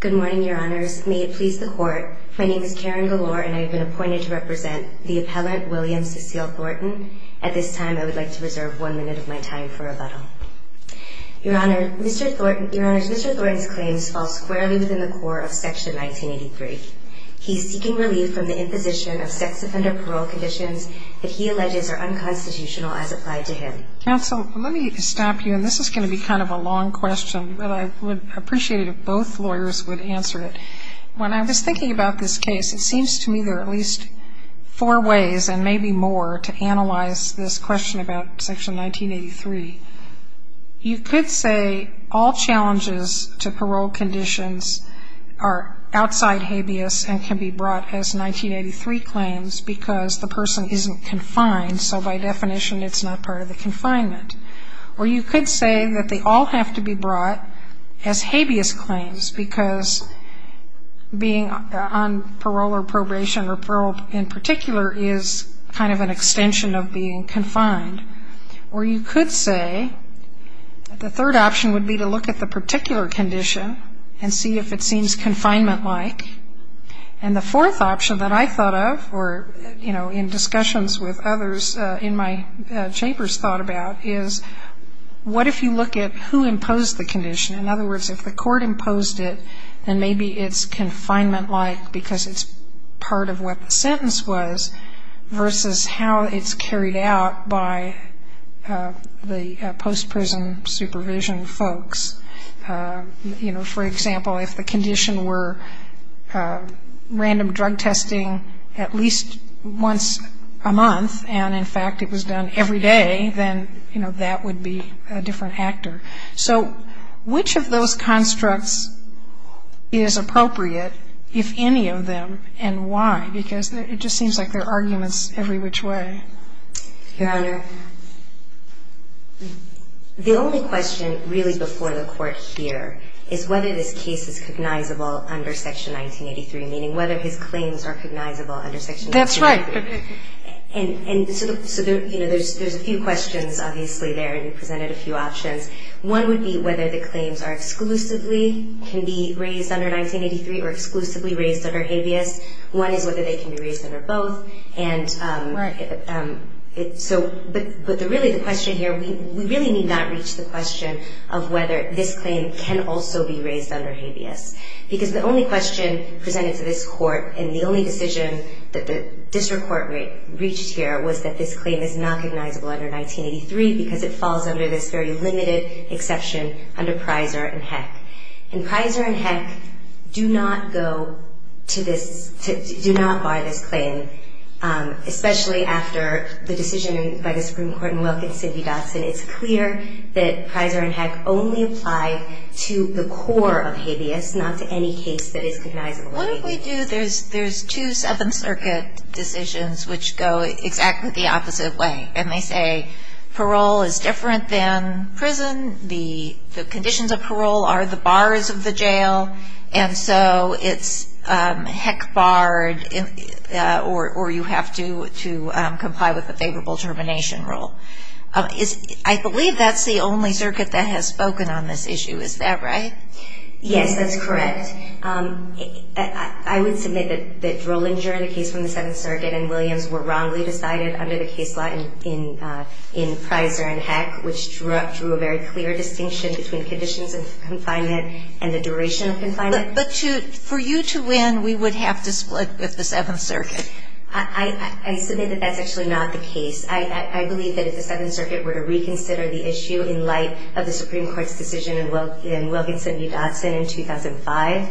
Good morning, Your Honors. May it please the Court, my name is Karen Galore and I have been appointed to represent the appellant William Cecile Thornton. At this time, I would like to reserve one minute of my time for rebuttal. Your Honor, Mr. Thornton's claims fall squarely within the core of Section 1983. He is seeking relief from the imposition of sex offender parole conditions that he alleges are unconstitutional as applied to him. Counsel, let me stop you, and this is going to be kind of a long question, but I would appreciate it if both lawyers would answer it. When I was thinking about this case, it seems to me there are at least four ways, and maybe more, to analyze this question about Section 1983. You could say all challenges to parole conditions are outside habeas and can be brought as 1983 claims because the person isn't confined, so by definition it's not part of the confinement. Or you could say that they all have to be brought as habeas claims because being on parole or probation or parole in particular is kind of an extension of being confined. Or you could say that the third option would be to look at the particular condition and see if it seems confinement-like. And the fourth option that I thought of, or, you know, in discussions with others in my chambers thought about, is what if you look at who imposed the condition? In other words, if the court imposed it, then maybe it's confinement-like because it's part of what the sentence was, versus how it's carried out by the post-prison supervision folks. You know, for example, if the condition were random drug testing at least once a month, and in fact it was done every day, then, you know, that would be a different actor. So which of those constructs is appropriate, if any of them, and why? Because it just seems like there are arguments every which way. Your Honor, the only question really before the Court here is whether this case is cognizable under Section 1983, meaning whether his claims are cognizable under Section 1983. That's right. And so, you know, there's a few questions obviously there, and you presented a few options. One would be whether the claims are exclusively can be raised under 1983 or exclusively raised under habeas. One is whether they can be raised under both. Right. But really the question here, we really need not reach the question of whether this claim can also be raised under habeas. Because the only question presented to this Court, and the only decision that the District Court reached here, was that this claim is not cognizable under 1983 because it falls under this very limited exception under Prizer and Heck. And Prizer and Heck do not go to this, do not bar this claim, especially after the decision by the Supreme Court in Wilkins-Sidney Dodson. It's clear that Prizer and Heck only apply to the core of habeas, not to any case that is cognizable under habeas. What if we do, there's two Seventh Circuit decisions which go exactly the opposite way, and they say parole is different than prison, the conditions of parole are the bars of the jail, and so it's Heck barred or you have to comply with the favorable termination rule. I believe that's the only circuit that has spoken on this issue, is that right? Yes, that's correct. And I would submit that Drolinger, the case from the Seventh Circuit, and Williams were wrongly decided under the case law in Prizer and Heck, which drew a very clear distinction between conditions of confinement and the duration of confinement. But for you to win, we would have to split with the Seventh Circuit. I submit that that's actually not the case. I believe that if the Seventh Circuit were to reconsider the issue in light of the Supreme Court's decision in Wilkinson v. Dodson in 2005,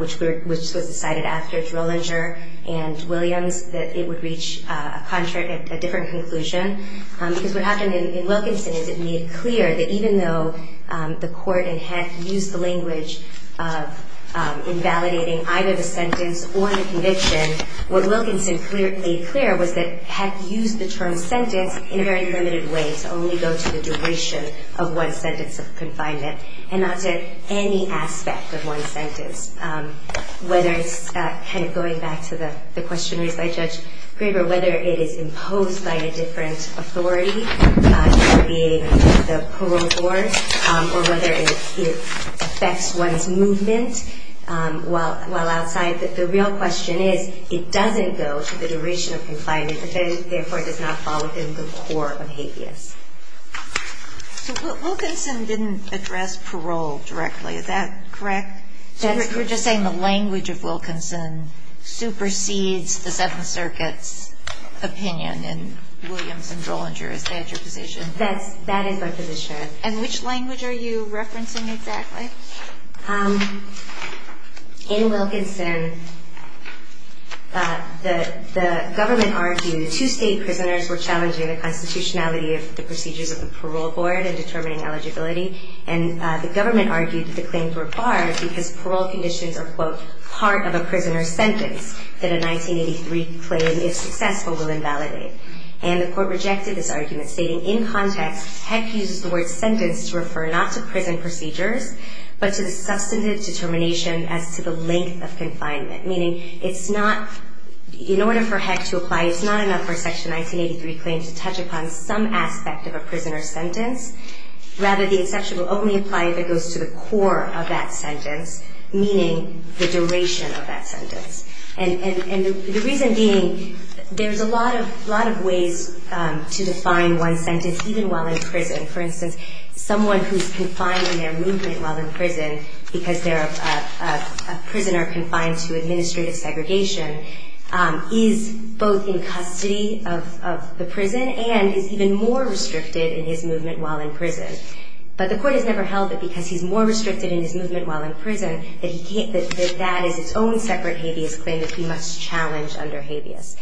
which was decided after Drolinger and Williams, that it would reach a different conclusion. Because what happened in Wilkinson is it made clear that even though the court in Heck used the language of invalidating either the sentence or the conviction, what Wilkinson made clear was that Heck used the term sentence in a very limited way to only go to the duration of one sentence of confinement and not to any aspect of one sentence. Whether it's kind of going back to the question raised by Judge Graber, whether it is imposed by a different authority, either being the parole board, or whether it affects one's movement while outside, the real question is it doesn't go to the duration of confinement, and therefore it does not fall within the core of habeas. So Wilkinson didn't address parole directly, is that correct? That's correct. So you're just saying the language of Wilkinson supersedes the Seventh Circuit's opinion in Williams and Drolinger, is that your position? That is my position. And which language are you referencing exactly? Okay. In Wilkinson, the government argued two state prisoners were challenging the constitutionality of the procedures of the parole board in determining eligibility, and the government argued that the claims were barred because parole conditions are, quote, part of a prisoner's sentence that a 1983 claim, if successful, will invalidate. And the court rejected this argument, stating, in context, Heck uses the word sentence to refer not to prison procedures, but to the substantive determination as to the length of confinement, meaning it's not, in order for Heck to apply, it's not enough for Section 1983 claims to touch upon some aspect of a prisoner's sentence. Rather, the exception will only apply if it goes to the core of that sentence, meaning the duration of that sentence. And the reason being, there's a lot of ways to define one's sentence, even while in prison. For instance, someone who's confined in their movement while in prison because they're a prisoner confined to administrative segregation is both in custody of the prison and is even more restricted in his movement while in prison. But the court has never held that because he's more restricted in his movement while in prison, that that is its own separate habeas claim that he must challenge under habeas.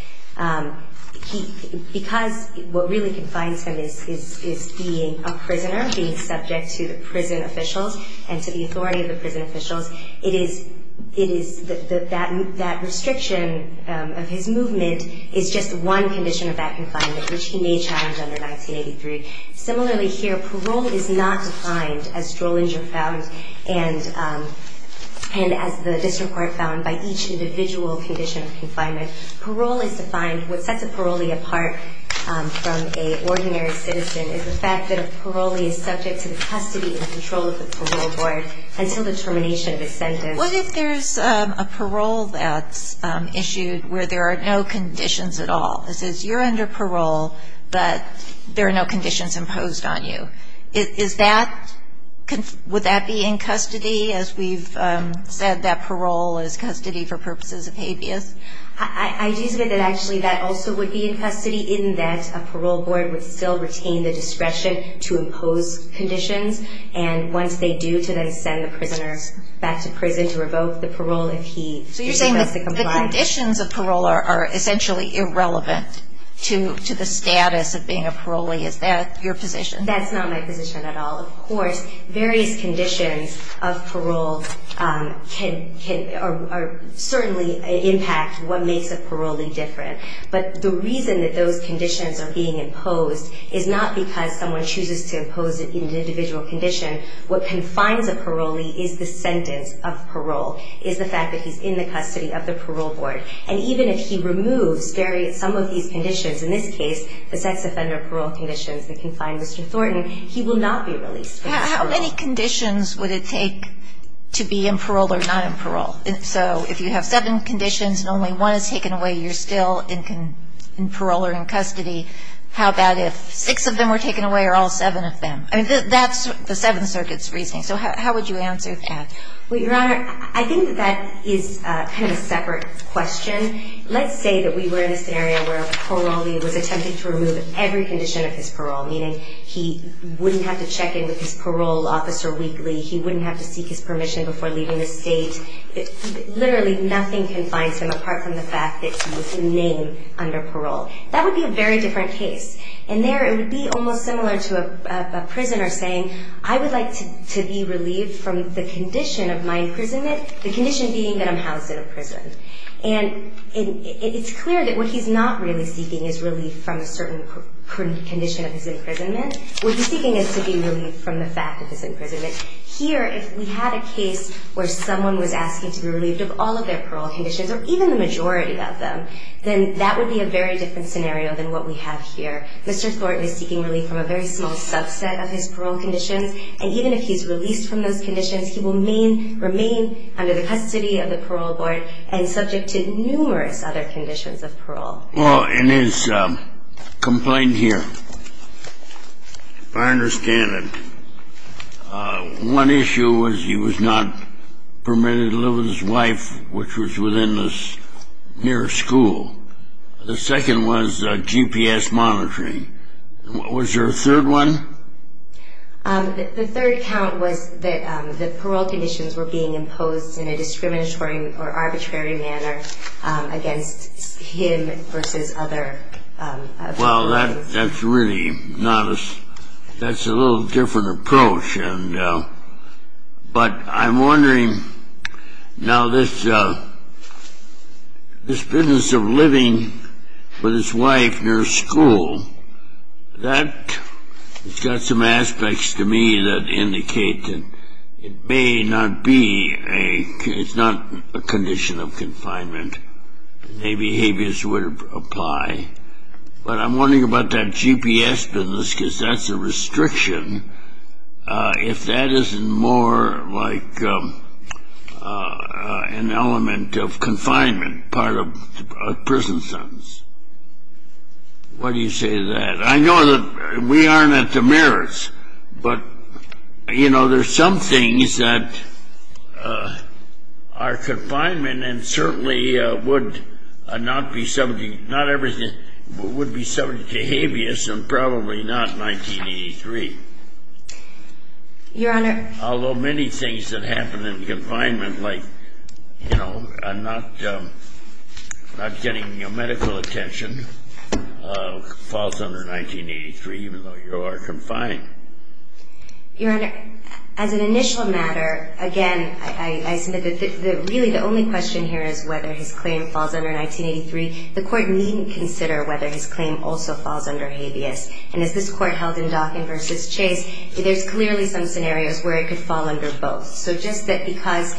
Because what really confines him is being a prisoner, being subject to the prison officials and to the authority of the prison officials, that restriction of his movement is just one condition of that confinement, which he may challenge under 1983. Similarly here, parole is not defined, as Drollinger found and as the district court found, by each individual condition of confinement. Parole is defined, what sets a parolee apart from an ordinary citizen is the fact that a parolee is subject to the custody and control of the parole board until the termination of the sentence. What if there's a parole that's issued where there are no conditions at all? It says you're under parole, but there are no conditions imposed on you. Is that, would that be in custody as we've said that parole is custody for purposes of habeas? I do submit that actually that also would be in custody in that a parole board would still retain the discretion to impose conditions and once they do, to then send the prisoners back to prison to revoke the parole if he is supposed to comply. So you're saying that the conditions of parole are essentially irrelevant to the status of being a parolee. Is that your position? That's not my position at all. Well, of course, various conditions of parole can certainly impact what makes a parolee different. But the reason that those conditions are being imposed is not because someone chooses to impose it in an individual condition. What confines a parolee is the sentence of parole, is the fact that he's in the custody of the parole board. And even if he removes some of these conditions, in this case, the sex offender parole conditions that confine Mr. Thornton, he will not be released. How many conditions would it take to be in parole or not in parole? So if you have seven conditions and only one is taken away, you're still in parole or in custody. How about if six of them were taken away or all seven of them? I mean, that's the Seventh Circuit's reasoning. So how would you answer that? Well, Your Honor, I think that that is kind of a separate question. Let's say that we were in a scenario where a parolee was attempting to remove every condition of his parole, meaning he wouldn't have to check in with his parole officer weekly, he wouldn't have to seek his permission before leaving the state. Literally nothing confines him apart from the fact that he was named under parole. That would be a very different case. And there it would be almost similar to a prisoner saying, I would like to be relieved from the condition of my imprisonment, the condition being that I'm housed in a prison. And it's clear that what he's not really seeking is relief from a certain condition of his imprisonment. What he's seeking is to be relieved from the fact of his imprisonment. Here, if we had a case where someone was asking to be relieved of all of their parole conditions, or even the majority of them, then that would be a very different scenario than what we have here. Mr. Thornton is seeking relief from a very small subset of his parole conditions, and even if he's released from those conditions, he will remain under the custody of the Parole Board and subject to numerous other conditions of parole. Well, in his complaint here, if I understand it, one issue was he was not permitted to live with his wife, which was within the nearest school. The second was GPS monitoring. Was there a third one? The third count was that the parole conditions were being imposed in a discriminatory or arbitrary manner against him versus other people. Well, that's really not a – that's a little different approach. But I'm wondering, now, this business of living with his wife near school, that's got some aspects to me that indicate that it may not be a – it's not a condition of confinement, and the behaviors would apply. But I'm wondering about that GPS business, because that's a restriction, if that isn't more like an element of confinement, part of prison sentence. Why do you say that? I know that we aren't at the mirrors, but, you know, there's some things that are confinement and certainly would not be – not everything – would be subject to habeas and probably not 1983. Your Honor. Although many things that happen in confinement, like, you know, not getting medical attention falls under 1983, even though you are confined. Your Honor, as an initial matter, again, I submit that really the only question here is whether his claim falls under 1983. The Court needn't consider whether his claim also falls under habeas. And as this Court held in Dockin v. Chase, there's clearly some scenarios where it could fall under both. So just that because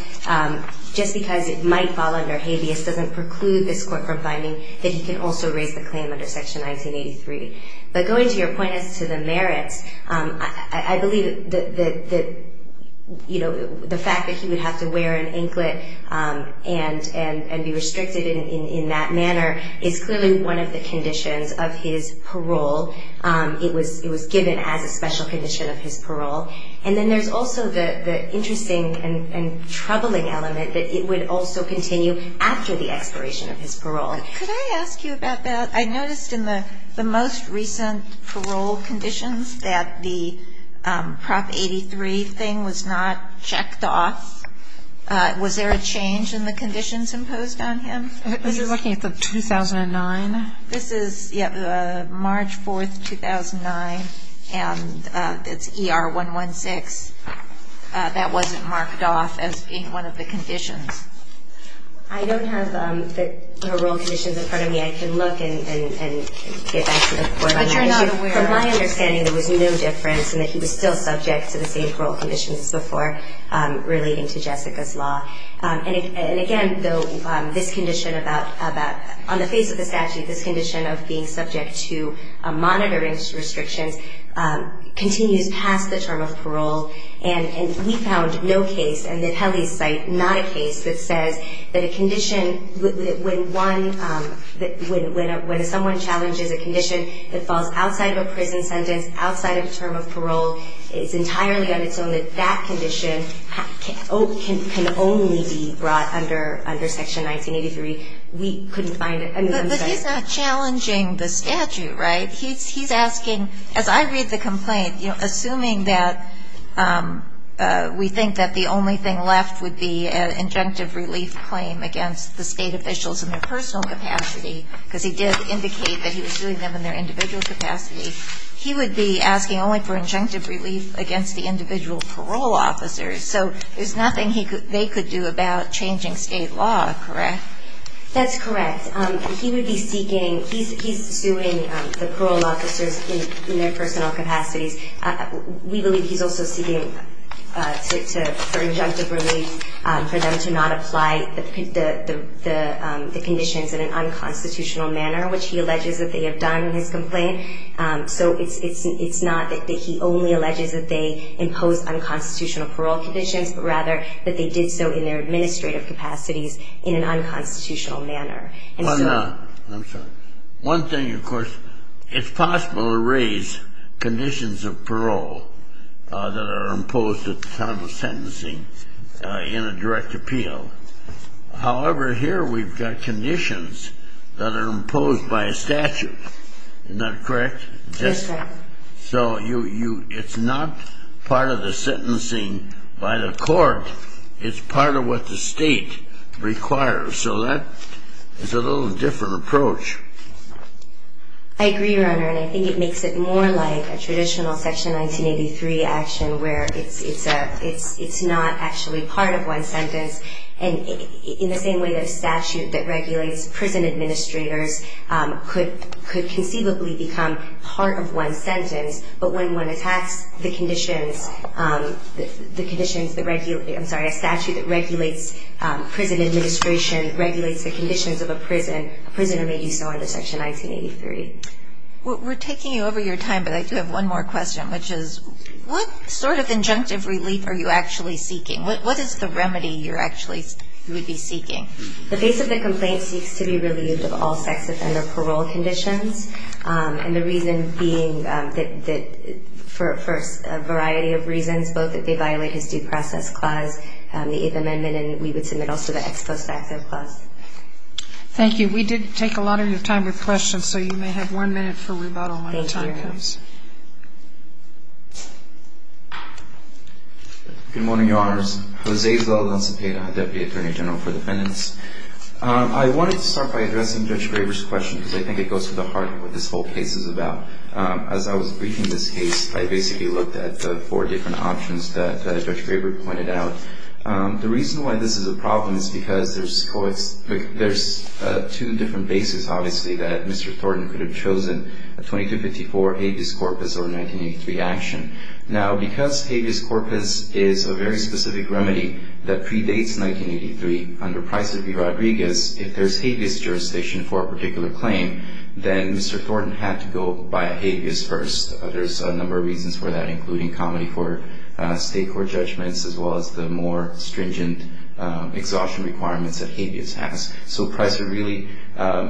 – just because it might fall under habeas doesn't preclude this Court from finding that he can also raise the claim under Section 1983. But going to your point as to the merits, I believe that, you know, the fact that he would have to wear an anklet and be restricted in that manner is clearly one of the conditions of his parole. It was given as a special condition of his parole. And then there's also the interesting and troubling element Could I ask you about that? I noticed in the most recent parole conditions that the Prop 83 thing was not checked off. Was there a change in the conditions imposed on him? Are you looking at the 2009? This is, yeah, March 4th, 2009, and it's ER 116. That wasn't marked off as being one of the conditions. I don't have the parole conditions in front of me. I can look and get back to the court on that issue. But you're not aware of it? From my understanding, there was no difference in that he was still subject to the same parole conditions as before relating to Jessica's law. And again, though, this condition about – on the face of the statute, this condition of being subject to monitoring restrictions continues past the term of parole. And we found no case, and the Pele's site, not a case that says that a condition – when someone challenges a condition that falls outside of a prison sentence, outside of a term of parole, it's entirely on its own that that condition can only be brought under Section 1983. We couldn't find it. But he's not challenging the statute, right? He's asking – as I read the complaint, assuming that we think that the only thing left would be an injunctive relief claim against the state officials in their personal capacity, because he did indicate that he was suing them in their individual capacity, he would be asking only for injunctive relief against the individual parole officers. So there's nothing they could do about changing state law, correct? That's correct. And he would be seeking – he's suing the parole officers in their personal capacities. We believe he's also seeking for injunctive relief for them to not apply the conditions in an unconstitutional manner, which he alleges that they have done in his complaint. So it's not that he only alleges that they imposed unconstitutional parole conditions, but rather that they did so in their administrative capacities in an unconstitutional manner. Why not? I'm sorry. One thing, of course, it's possible to raise conditions of parole that are imposed at the time of sentencing in a direct appeal. However, here we've got conditions that are imposed by a statute. Is that correct? That's correct. So it's not part of the sentencing by the court. It's part of what the state requires. So that is a little different approach. I agree, Your Honor. And I think it makes it more like a traditional Section 1983 action where it's not actually part of one sentence. And in the same way that a statute that regulates prison administrators could conceivably become part of one sentence, but when one attacks the conditions that regulate, I'm sorry, a statute that regulates prison administration, regulates the conditions of a prison, a prisoner may do so under Section 1983. We're taking you over your time, but I do have one more question, which is what sort of injunctive relief are you actually seeking? What is the remedy you're actually, you would be seeking? The face of the complaint seeks to be relieved of all sex offender parole conditions, and the reason being that for a variety of reasons, both that they violate his due process clause, the Eighth Amendment, and we would submit also the ex post facto clause. Thank you. We did take a lot of your time with questions, so you may have one minute for rebuttal when the time comes. Thank you. Good morning, Your Honors. Jose Zeldon Cepeda, Deputy Attorney General for Defendants. I wanted to start by addressing Judge Graber's question, because I think it goes to the heart of what this whole case is about. As I was briefing this case, I basically looked at the four different options that Judge Graber pointed out. The reason why this is a problem is because there's two different bases, obviously, that Mr. Thornton could have chosen, 2254, habeas corpus, or 1983 action. Now, because habeas corpus is a very specific remedy that predates 1983, under Pricer v. Rodriguez, if there's habeas jurisdiction for a particular claim, then Mr. Thornton had to go by a habeas first. There's a number of reasons for that, including comedy for state court judgments, as well as the more stringent exhaustion requirements that habeas has. So Pricer really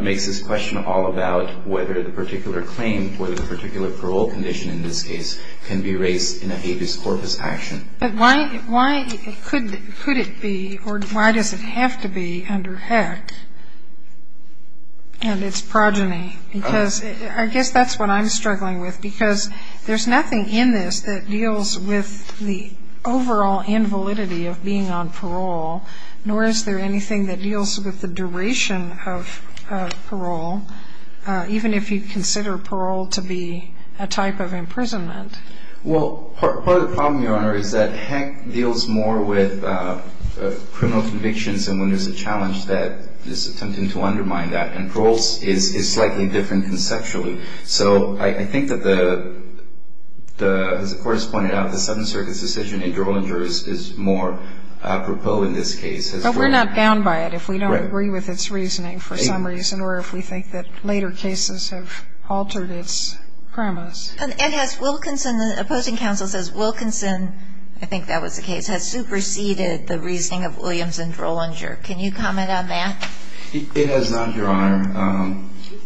makes this question all about whether the particular claim, or the particular parole condition in this case, can be raised in a habeas corpus action. But why could it be, or why does it have to be under Heck and its progeny? Because I guess that's what I'm struggling with, because there's nothing in this that deals with the overall invalidity of being on parole, nor is there anything that deals with the duration of parole, even if you consider parole to be a type of imprisonment. Well, part of the problem, Your Honor, is that Heck deals more with criminal convictions and when there's a challenge that is attempting to undermine that. And parole is slightly different conceptually. So I think that the, as the court has pointed out, the Seventh Circuit's decision in Drollinger is more apropos in this case. We're not bound by it if we don't agree with its reasoning for some reason, or if we think that later cases have altered its premise. And has Wilkinson, the opposing counsel says Wilkinson, I think that was the case, has superseded the reasoning of Williams in Drollinger. Can you comment on that? It has not, Your Honor.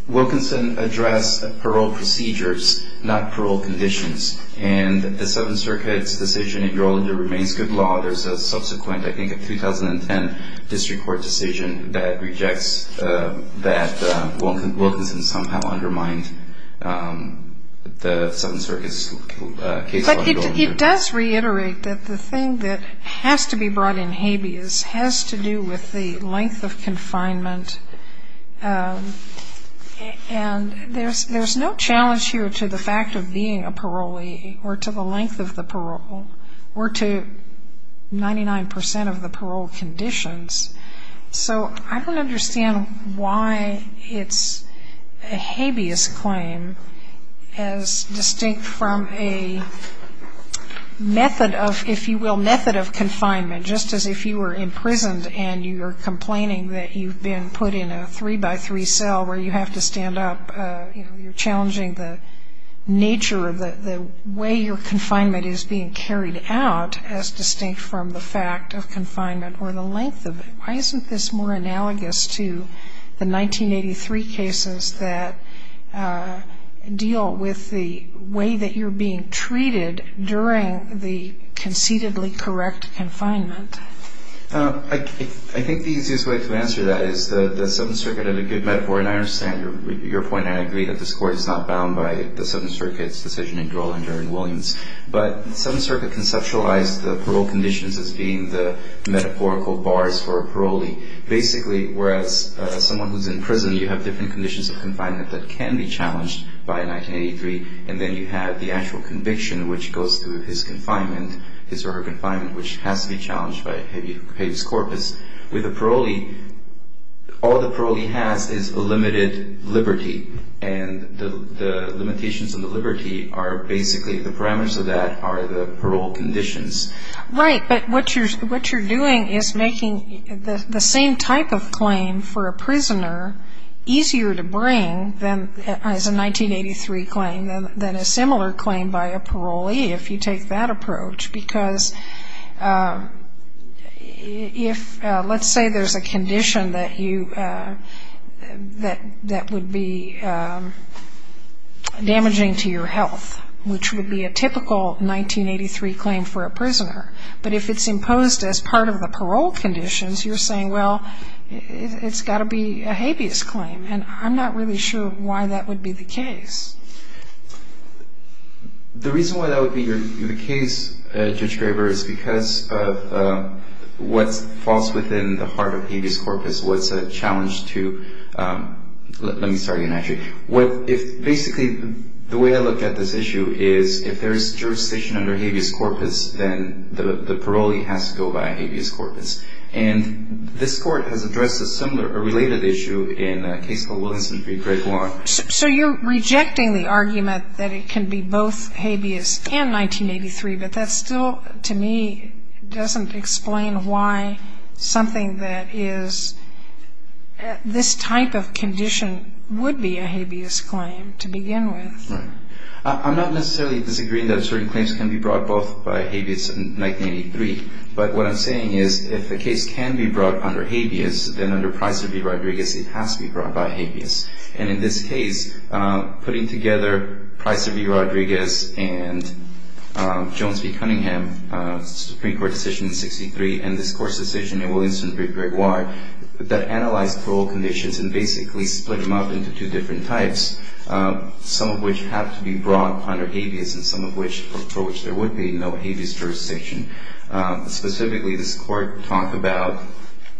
Wilkinson addressed parole procedures, not parole conditions. And the Seventh Circuit's decision in Drollinger remains good law. There's a subsequent, I think in 2010, district court decision that rejects that Wilkinson somehow undermined the Seventh Circuit's case on Drollinger. But it does reiterate that the thing that has to be brought in habeas has to do with the length of confinement. And there's no challenge here to the fact of being a parolee or to the length of the parole or to 99% of the parole conditions. So I don't understand why it's a habeas claim as distinct from a method of, if you will, method of confinement, just as if you were imprisoned and you were complaining that you've been put in a three-by-three cell where you have to stand up, you're challenging the nature of the way your confinement is being carried out as distinct from the fact of confinement or the length of it. Why isn't this more analogous to the 1983 cases that deal with the way that you're being treated during the conceitedly correct confinement? I think the easiest way to answer that is the Seventh Circuit had a good metaphor, and I understand your point. I agree that the score is not bound by the Seventh Circuit's decision in Drollinger and Williams. But the Seventh Circuit conceptualized the parole conditions as being the metaphorical bars for a parolee. Basically, whereas someone who's in prison, you have different conditions of confinement that can be challenged by a 1983, and then you have the actual conviction, which goes through his confinement, his or her confinement, which has to be challenged by habeas corpus. With a parolee, all the parolee has is a limited liberty, and the limitations of the liberty are basically the parameters of that are the parole conditions. Right, but what you're doing is making the same type of claim for a prisoner easier to bring as a 1983 claim than a similar claim by a parolee, if you take that approach. Because if, let's say there's a condition that would be damaging to your health, which would be a typical 1983 claim for a prisoner, but if it's imposed as part of the parole conditions, you're saying, well, it's got to be a habeas claim, and I'm not really sure why that would be the case. The reason why that would be the case, Judge Graber, is because of what falls within the heart of habeas corpus, what's a challenge to, let me start again, actually. Basically, the way I look at this issue is if there's jurisdiction under habeas corpus, then the parolee has to go by habeas corpus. And this Court has addressed a similar, a related issue in a case called Willingston v. Greg Wong. So you're rejecting the argument that it can be both habeas and 1983, but that still, to me, doesn't explain why something that is this type of condition would be a habeas claim to begin with. Right. I'm not necessarily disagreeing that certain claims can be brought both by habeas and 1983, but what I'm saying is if a case can be brought under habeas, then under Pricer v. Rodriguez it has to be brought by habeas. And in this case, putting together Pricer v. Rodriguez and Jones v. Cunningham, Supreme Court decision in 1963, and this Court's decision in Willingston v. Greg Wong, that analyzed parole conditions and basically split them up into two different types, some of which have to be brought under habeas and some of which, for which there would be no habeas jurisdiction. Specifically, this Court talked about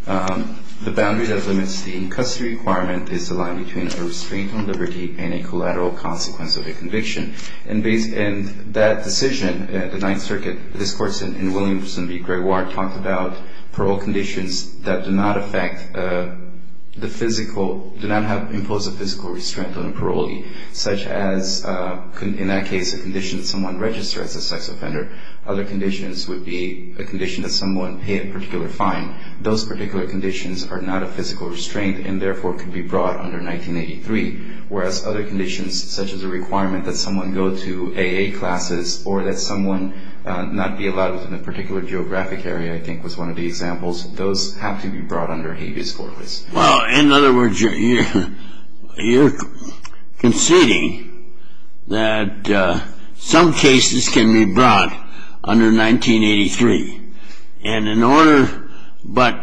the boundary that limits the in-custody requirement is the line between a restraint on liberty and a collateral consequence of a conviction. And that decision, the Ninth Circuit, this Court's in Willingston v. Greg Wong, talked about parole conditions that do not affect the physical, do not impose a physical restraint on a parolee, such as, in that case, a condition that someone registered as a sex offender. Other conditions would be a condition that someone paid a particular fine. Those particular conditions are not a physical restraint and, therefore, could be brought under 1983, whereas other conditions, such as a requirement that someone go to AA classes or that someone not be allowed within a particular geographic area, I think was one of the examples, those have to be brought under habeas corpus. Well, in other words, you're conceding that some cases can be brought under 1983. And in order, but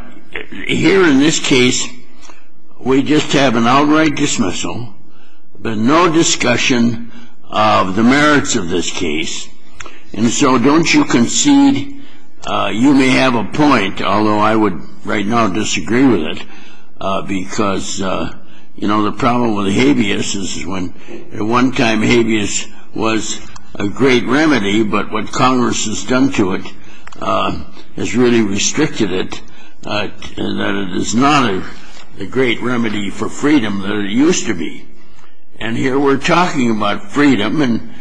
here in this case, we just have an outright dismissal, but no discussion of the merits of this case. And so don't you concede you may have a point, although I would right now disagree with it, because, you know, the problem with habeas is when at one time habeas was a great remedy, but what Congress has done to it has really restricted it, that it is not a great remedy for freedom that it used to be. And here we're talking about freedom, and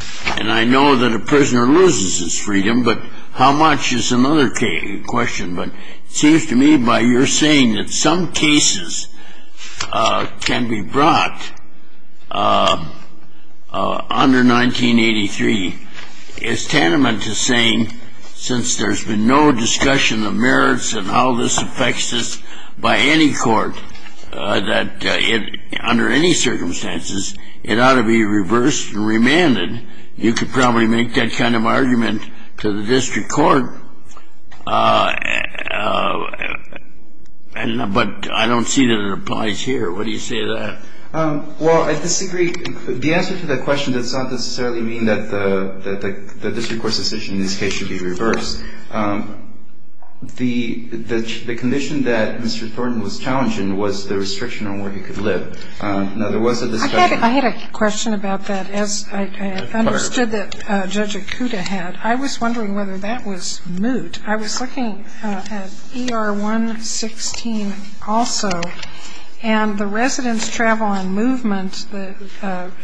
I know that a prisoner loses his freedom, but how much is another question. But it seems to me by your saying that some cases can be brought under 1983, is tantamount to saying since there's been no discussion of merits and how this affects us by any court, that under any circumstances, it ought to be reversed and remanded. And you could probably make that kind of argument to the district court, but I don't see that it applies here. What do you say to that? Well, I disagree. The answer to that question does not necessarily mean that the district court's decision in this case should be reversed. The condition that Mr. Thornton was challenged in was the restriction on where he could live. Now, there was a discussion. I had a question about that, as I understood that Judge Okuda had. I was wondering whether that was moot. I was looking at ER 116 also, and the residence travel and movement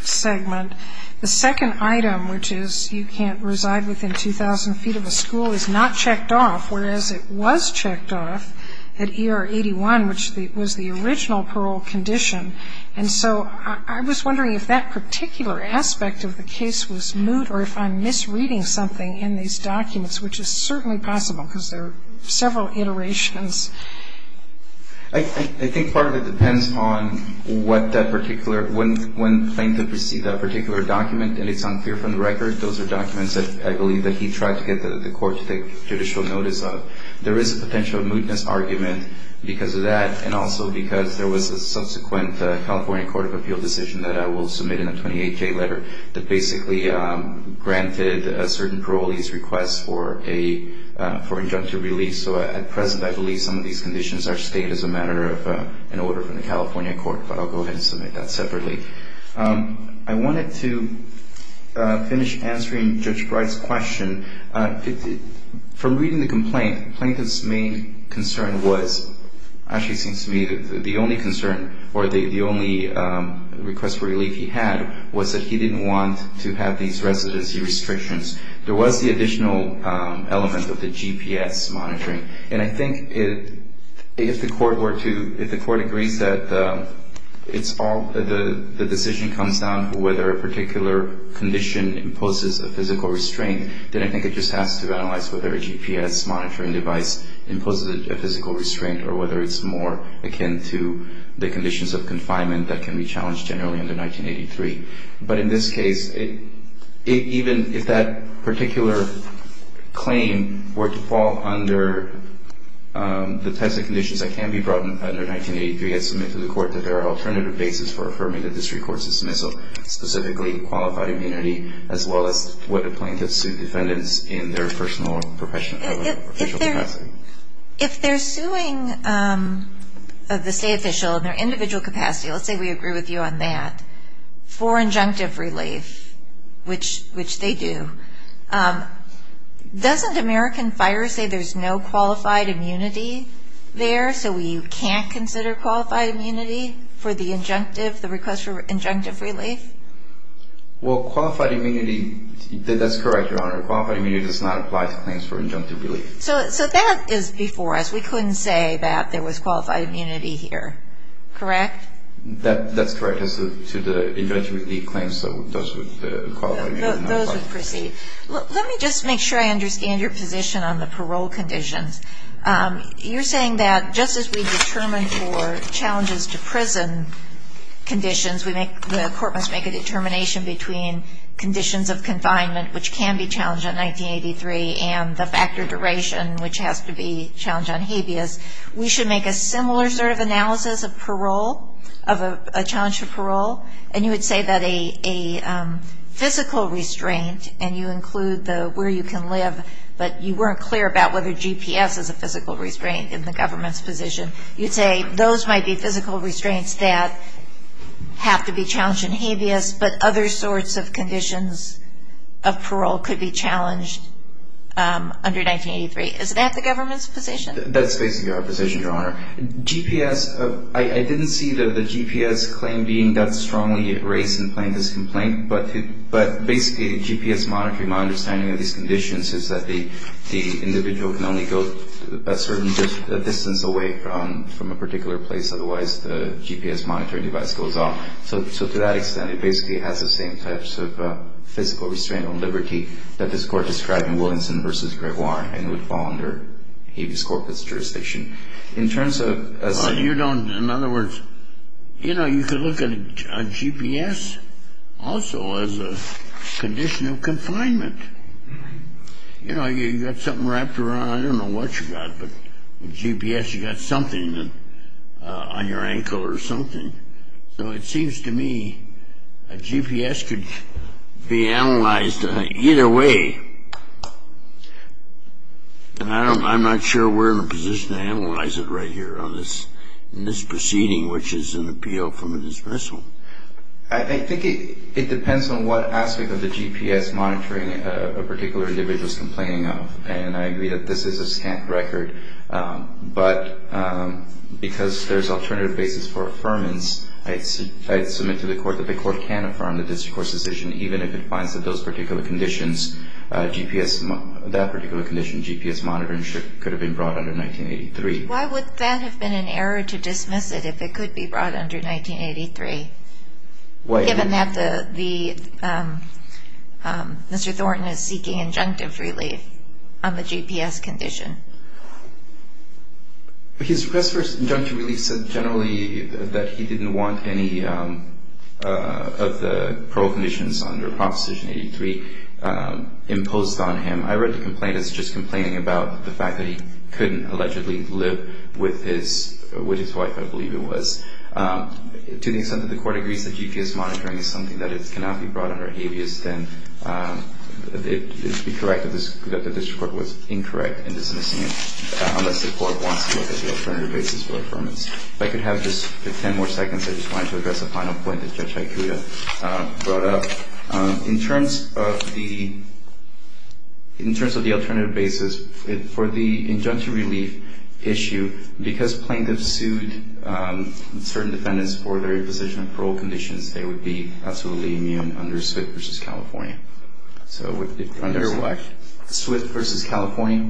segment, the second item, which is you can't reside within 2,000 feet of a school, is not checked off, whereas it was checked off at ER 81, which was the original parole condition. And so I was wondering if that particular aspect of the case was moot or if I'm misreading something in these documents, which is certainly possible because there are several iterations. I think part of it depends on what that particular – when claimed to precede that particular document, and it's unclear from the record. Those are documents that I believe that he tried to get the court to take judicial notice of. There is a potential mootness argument because of that and also because there was a subsequent California Court of Appeal decision that I will submit in a 28-K letter that basically granted a certain parolee's request for injunctive release. So at present, I believe some of these conditions are stayed as a matter of an order from the California court, but I'll go ahead and submit that separately. I wanted to finish answering Judge Breidt's question. From reading the complaint, the plaintiff's main concern was – actually, it seems to me the only concern or the only request for relief he had was that he didn't want to have these residency restrictions. There was the additional element of the GPS monitoring, and I think if the court were to – if the court agrees that it's all – the decision comes down to whether a particular condition imposes a physical restraint, then I think it just has to be analyzed whether that particular claim falls under the types of conditions that can be brought under 1983. But in this case, even if that particular claim were to fall under the types of conditions that can be brought under 1983, I submit to the court that there are alternative bases for affirming that this recourse is specifically qualified immunity as well as what a plaintiff sued defendants in their personal or professional capacity. If they're suing the state official in their individual capacity – let's say we agree with you on that – for injunctive relief, which they do, doesn't American Fire say there's no qualified immunity there, so we can't consider qualified immunity for the injunctive – the request for injunctive relief? Well, qualified immunity – that's correct, Your Honor. Qualified immunity does not apply to claims for injunctive relief. So that is before us. We couldn't say that there was qualified immunity here, correct? That's correct. As to the injunctive relief claims, those would qualify. Those would proceed. Let me just make sure I understand your position on the parole conditions. You're saying that just as we determine for challenges to prison conditions, the court must make a determination between conditions of confinement, which can be for a duration, which has to be a challenge on habeas. We should make a similar sort of analysis of parole, of a challenge for parole, and you would say that a physical restraint, and you include the where you can live, but you weren't clear about whether GPS is a physical restraint in the government's position. You'd say those might be physical restraints that have to be challenged in habeas, but other sorts of conditions of parole could be challenged under 1983. Is that the government's position? That's basically our position, Your Honor. GPS – I didn't see the GPS claim being that strongly raised in plaintiff's complaint, but basically GPS monitoring, my understanding of these conditions, is that the individual can only go a certain distance away from a particular place, otherwise the GPS monitoring device goes off. So to that extent, it basically has the same types of physical restraint on liberty that this Court described in Williamson v. Gregoire, and it would fall under habeas corpus jurisdiction. In terms of – You don't – in other words, you know, you could look at a GPS also as a condition of confinement. You know, you've got something wrapped around. I don't know what you've got, but with GPS you've got something on your ankle or something. So it seems to me a GPS could be analyzed either way, and I'm not sure we're in a position to analyze it right here in this proceeding, which is an appeal from a dismissal. I think it depends on what aspect of the GPS monitoring a particular individual is complaining of, and I agree that this is a scant record, but because there's alternative basis for affirmance, I submit to the Court that the Court can affirm the district court's decision, even if it finds that those particular conditions, GPS – that particular condition, GPS monitoring, could have been brought under 1983. Why would that have been an error to dismiss it if it could be brought under 1983, given that Mr. Thornton is seeking injunctive relief on the GPS condition? His request for injunctive relief said generally that he didn't want any of the parole conditions under Proposition 83 imposed on him. I read the complaint as just complaining about the fact that he couldn't allegedly live with his wife, I believe it was. To the extent that the Court agrees that GPS monitoring is something that cannot be brought under habeas, then it would be correct that the district court was incorrect in dismissing it, unless the Court wants to look at the alternative basis for affirmance. If I could have just 10 more seconds, I just wanted to address a final point that Judge Aikuda brought up. In terms of the alternative basis for the injunctive relief issue, because plaintiffs sued certain defendants for their imposition of parole conditions, they would be absolutely immune under Swift v. California. Under what? Swift v. California.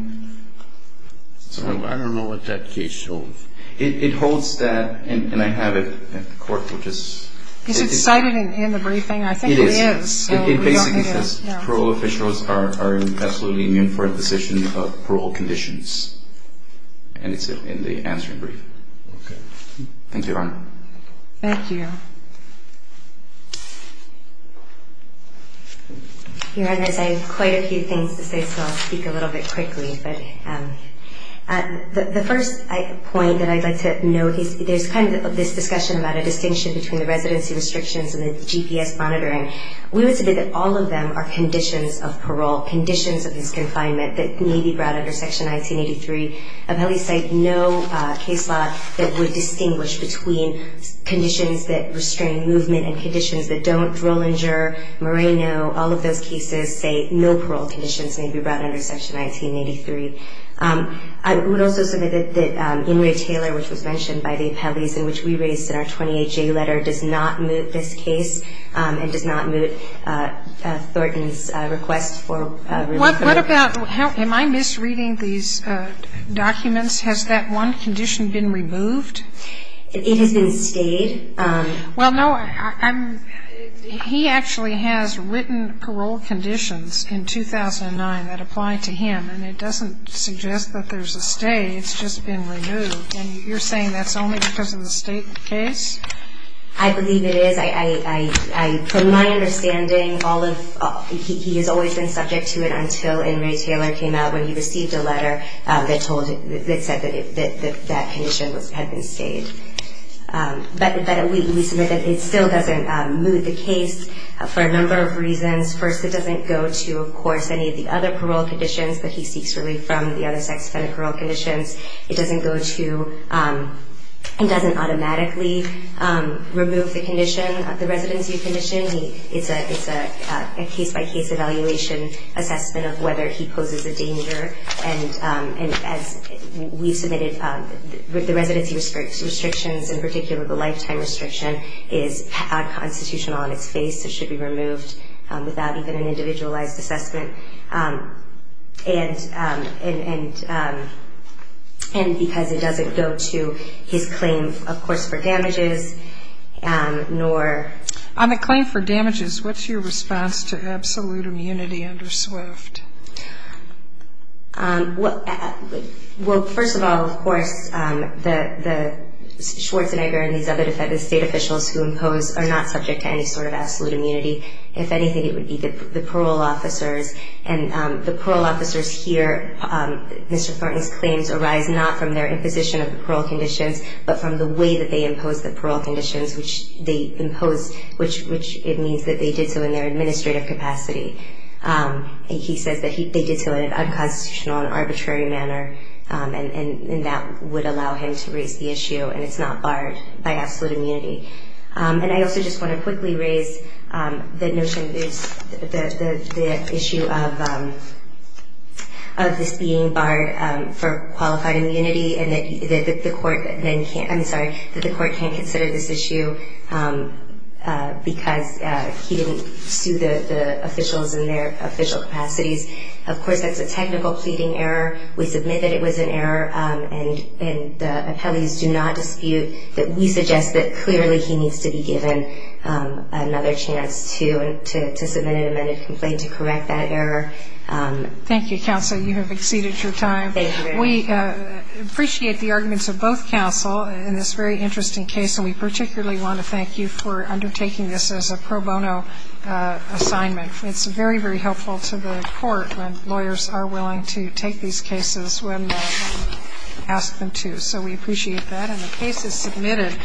I don't know what that case holds. It holds that – and I have it in court, which is – Is it cited in the briefing? I think it is. It is. It basically says parole officials are absolutely immune for imposition of parole conditions. And it's in the answering brief. Okay. Thank you, Your Honor. Thank you. Your Honor, I have quite a few things to say, so I'll speak a little bit quickly. But the first point that I'd like to note, there's kind of this discussion about a distinction between the residency restrictions and the GPS monitoring. We would say that all of them are conditions of parole, conditions of this confinement that may be brought under Section 1983. Appellees cite no case law that would distinguish between conditions that restrain movement and conditions that don't. Drollinger, Moreno, all of those cases say no parole conditions may be brought under Section 1983. I would also say that In re Taylor, which was mentioned by the appellees, and which we raised in our 28-J letter, does not moot this case and does not moot Thornton's request for release. What about, am I misreading these documents? Has that one condition been removed? It has been stayed. Well, no, he actually has written parole conditions in 2009 that apply to him, and it doesn't suggest that there's a stay. It's just been removed. And you're saying that's only because of the state case? I believe it is. From my understanding, he has always been subject to it until In re Taylor came out when he received a letter that said that condition had been stayed. But we submit that it still doesn't moot the case for a number of reasons. First, it doesn't go to, of course, any of the other parole conditions that he seeks relief from, the other sex-offended parole conditions. It doesn't go to and doesn't automatically remove the condition, the residency condition. It's a case-by-case evaluation assessment of whether he poses a danger. And as we submitted, the residency restrictions, in particular the lifetime restriction, is unconstitutional on its face. It should be removed without even an individualized assessment. And because it doesn't go to his claim, of course, for damages, nor... On the claim for damages, what's your response to absolute immunity under SWIFT? Well, first of all, of course, the Schwarzenegger and these other defective state officials who impose are not subject to any sort of absolute immunity. If anything, it would be the parole officers. And the parole officers here, Mr. Thornton's claims arise not from their imposition of the parole conditions, but from the way that they impose the parole conditions, which it means that they did so in their administrative capacity. He says that they did so in an unconstitutional and arbitrary manner, and that would allow him to raise the issue, and it's not barred by absolute immunity. And I also just want to quickly raise the issue of this being barred for qualified immunity and that the court can't consider this issue because he didn't sue the officials in their official capacities. Of course, that's a technical pleading error. We submit that it was an error, and the appellees do not dispute. But we suggest that clearly he needs to be given another chance to submit an amended complaint to correct that error. Thank you, counsel. You have exceeded your time. Thank you very much. We appreciate the arguments of both counsel in this very interesting case, and we particularly want to thank you for undertaking this as a pro bono assignment. It's very, very helpful to the court when lawyers are willing to take these cases when asked them to. So we appreciate that. And the case is submitted.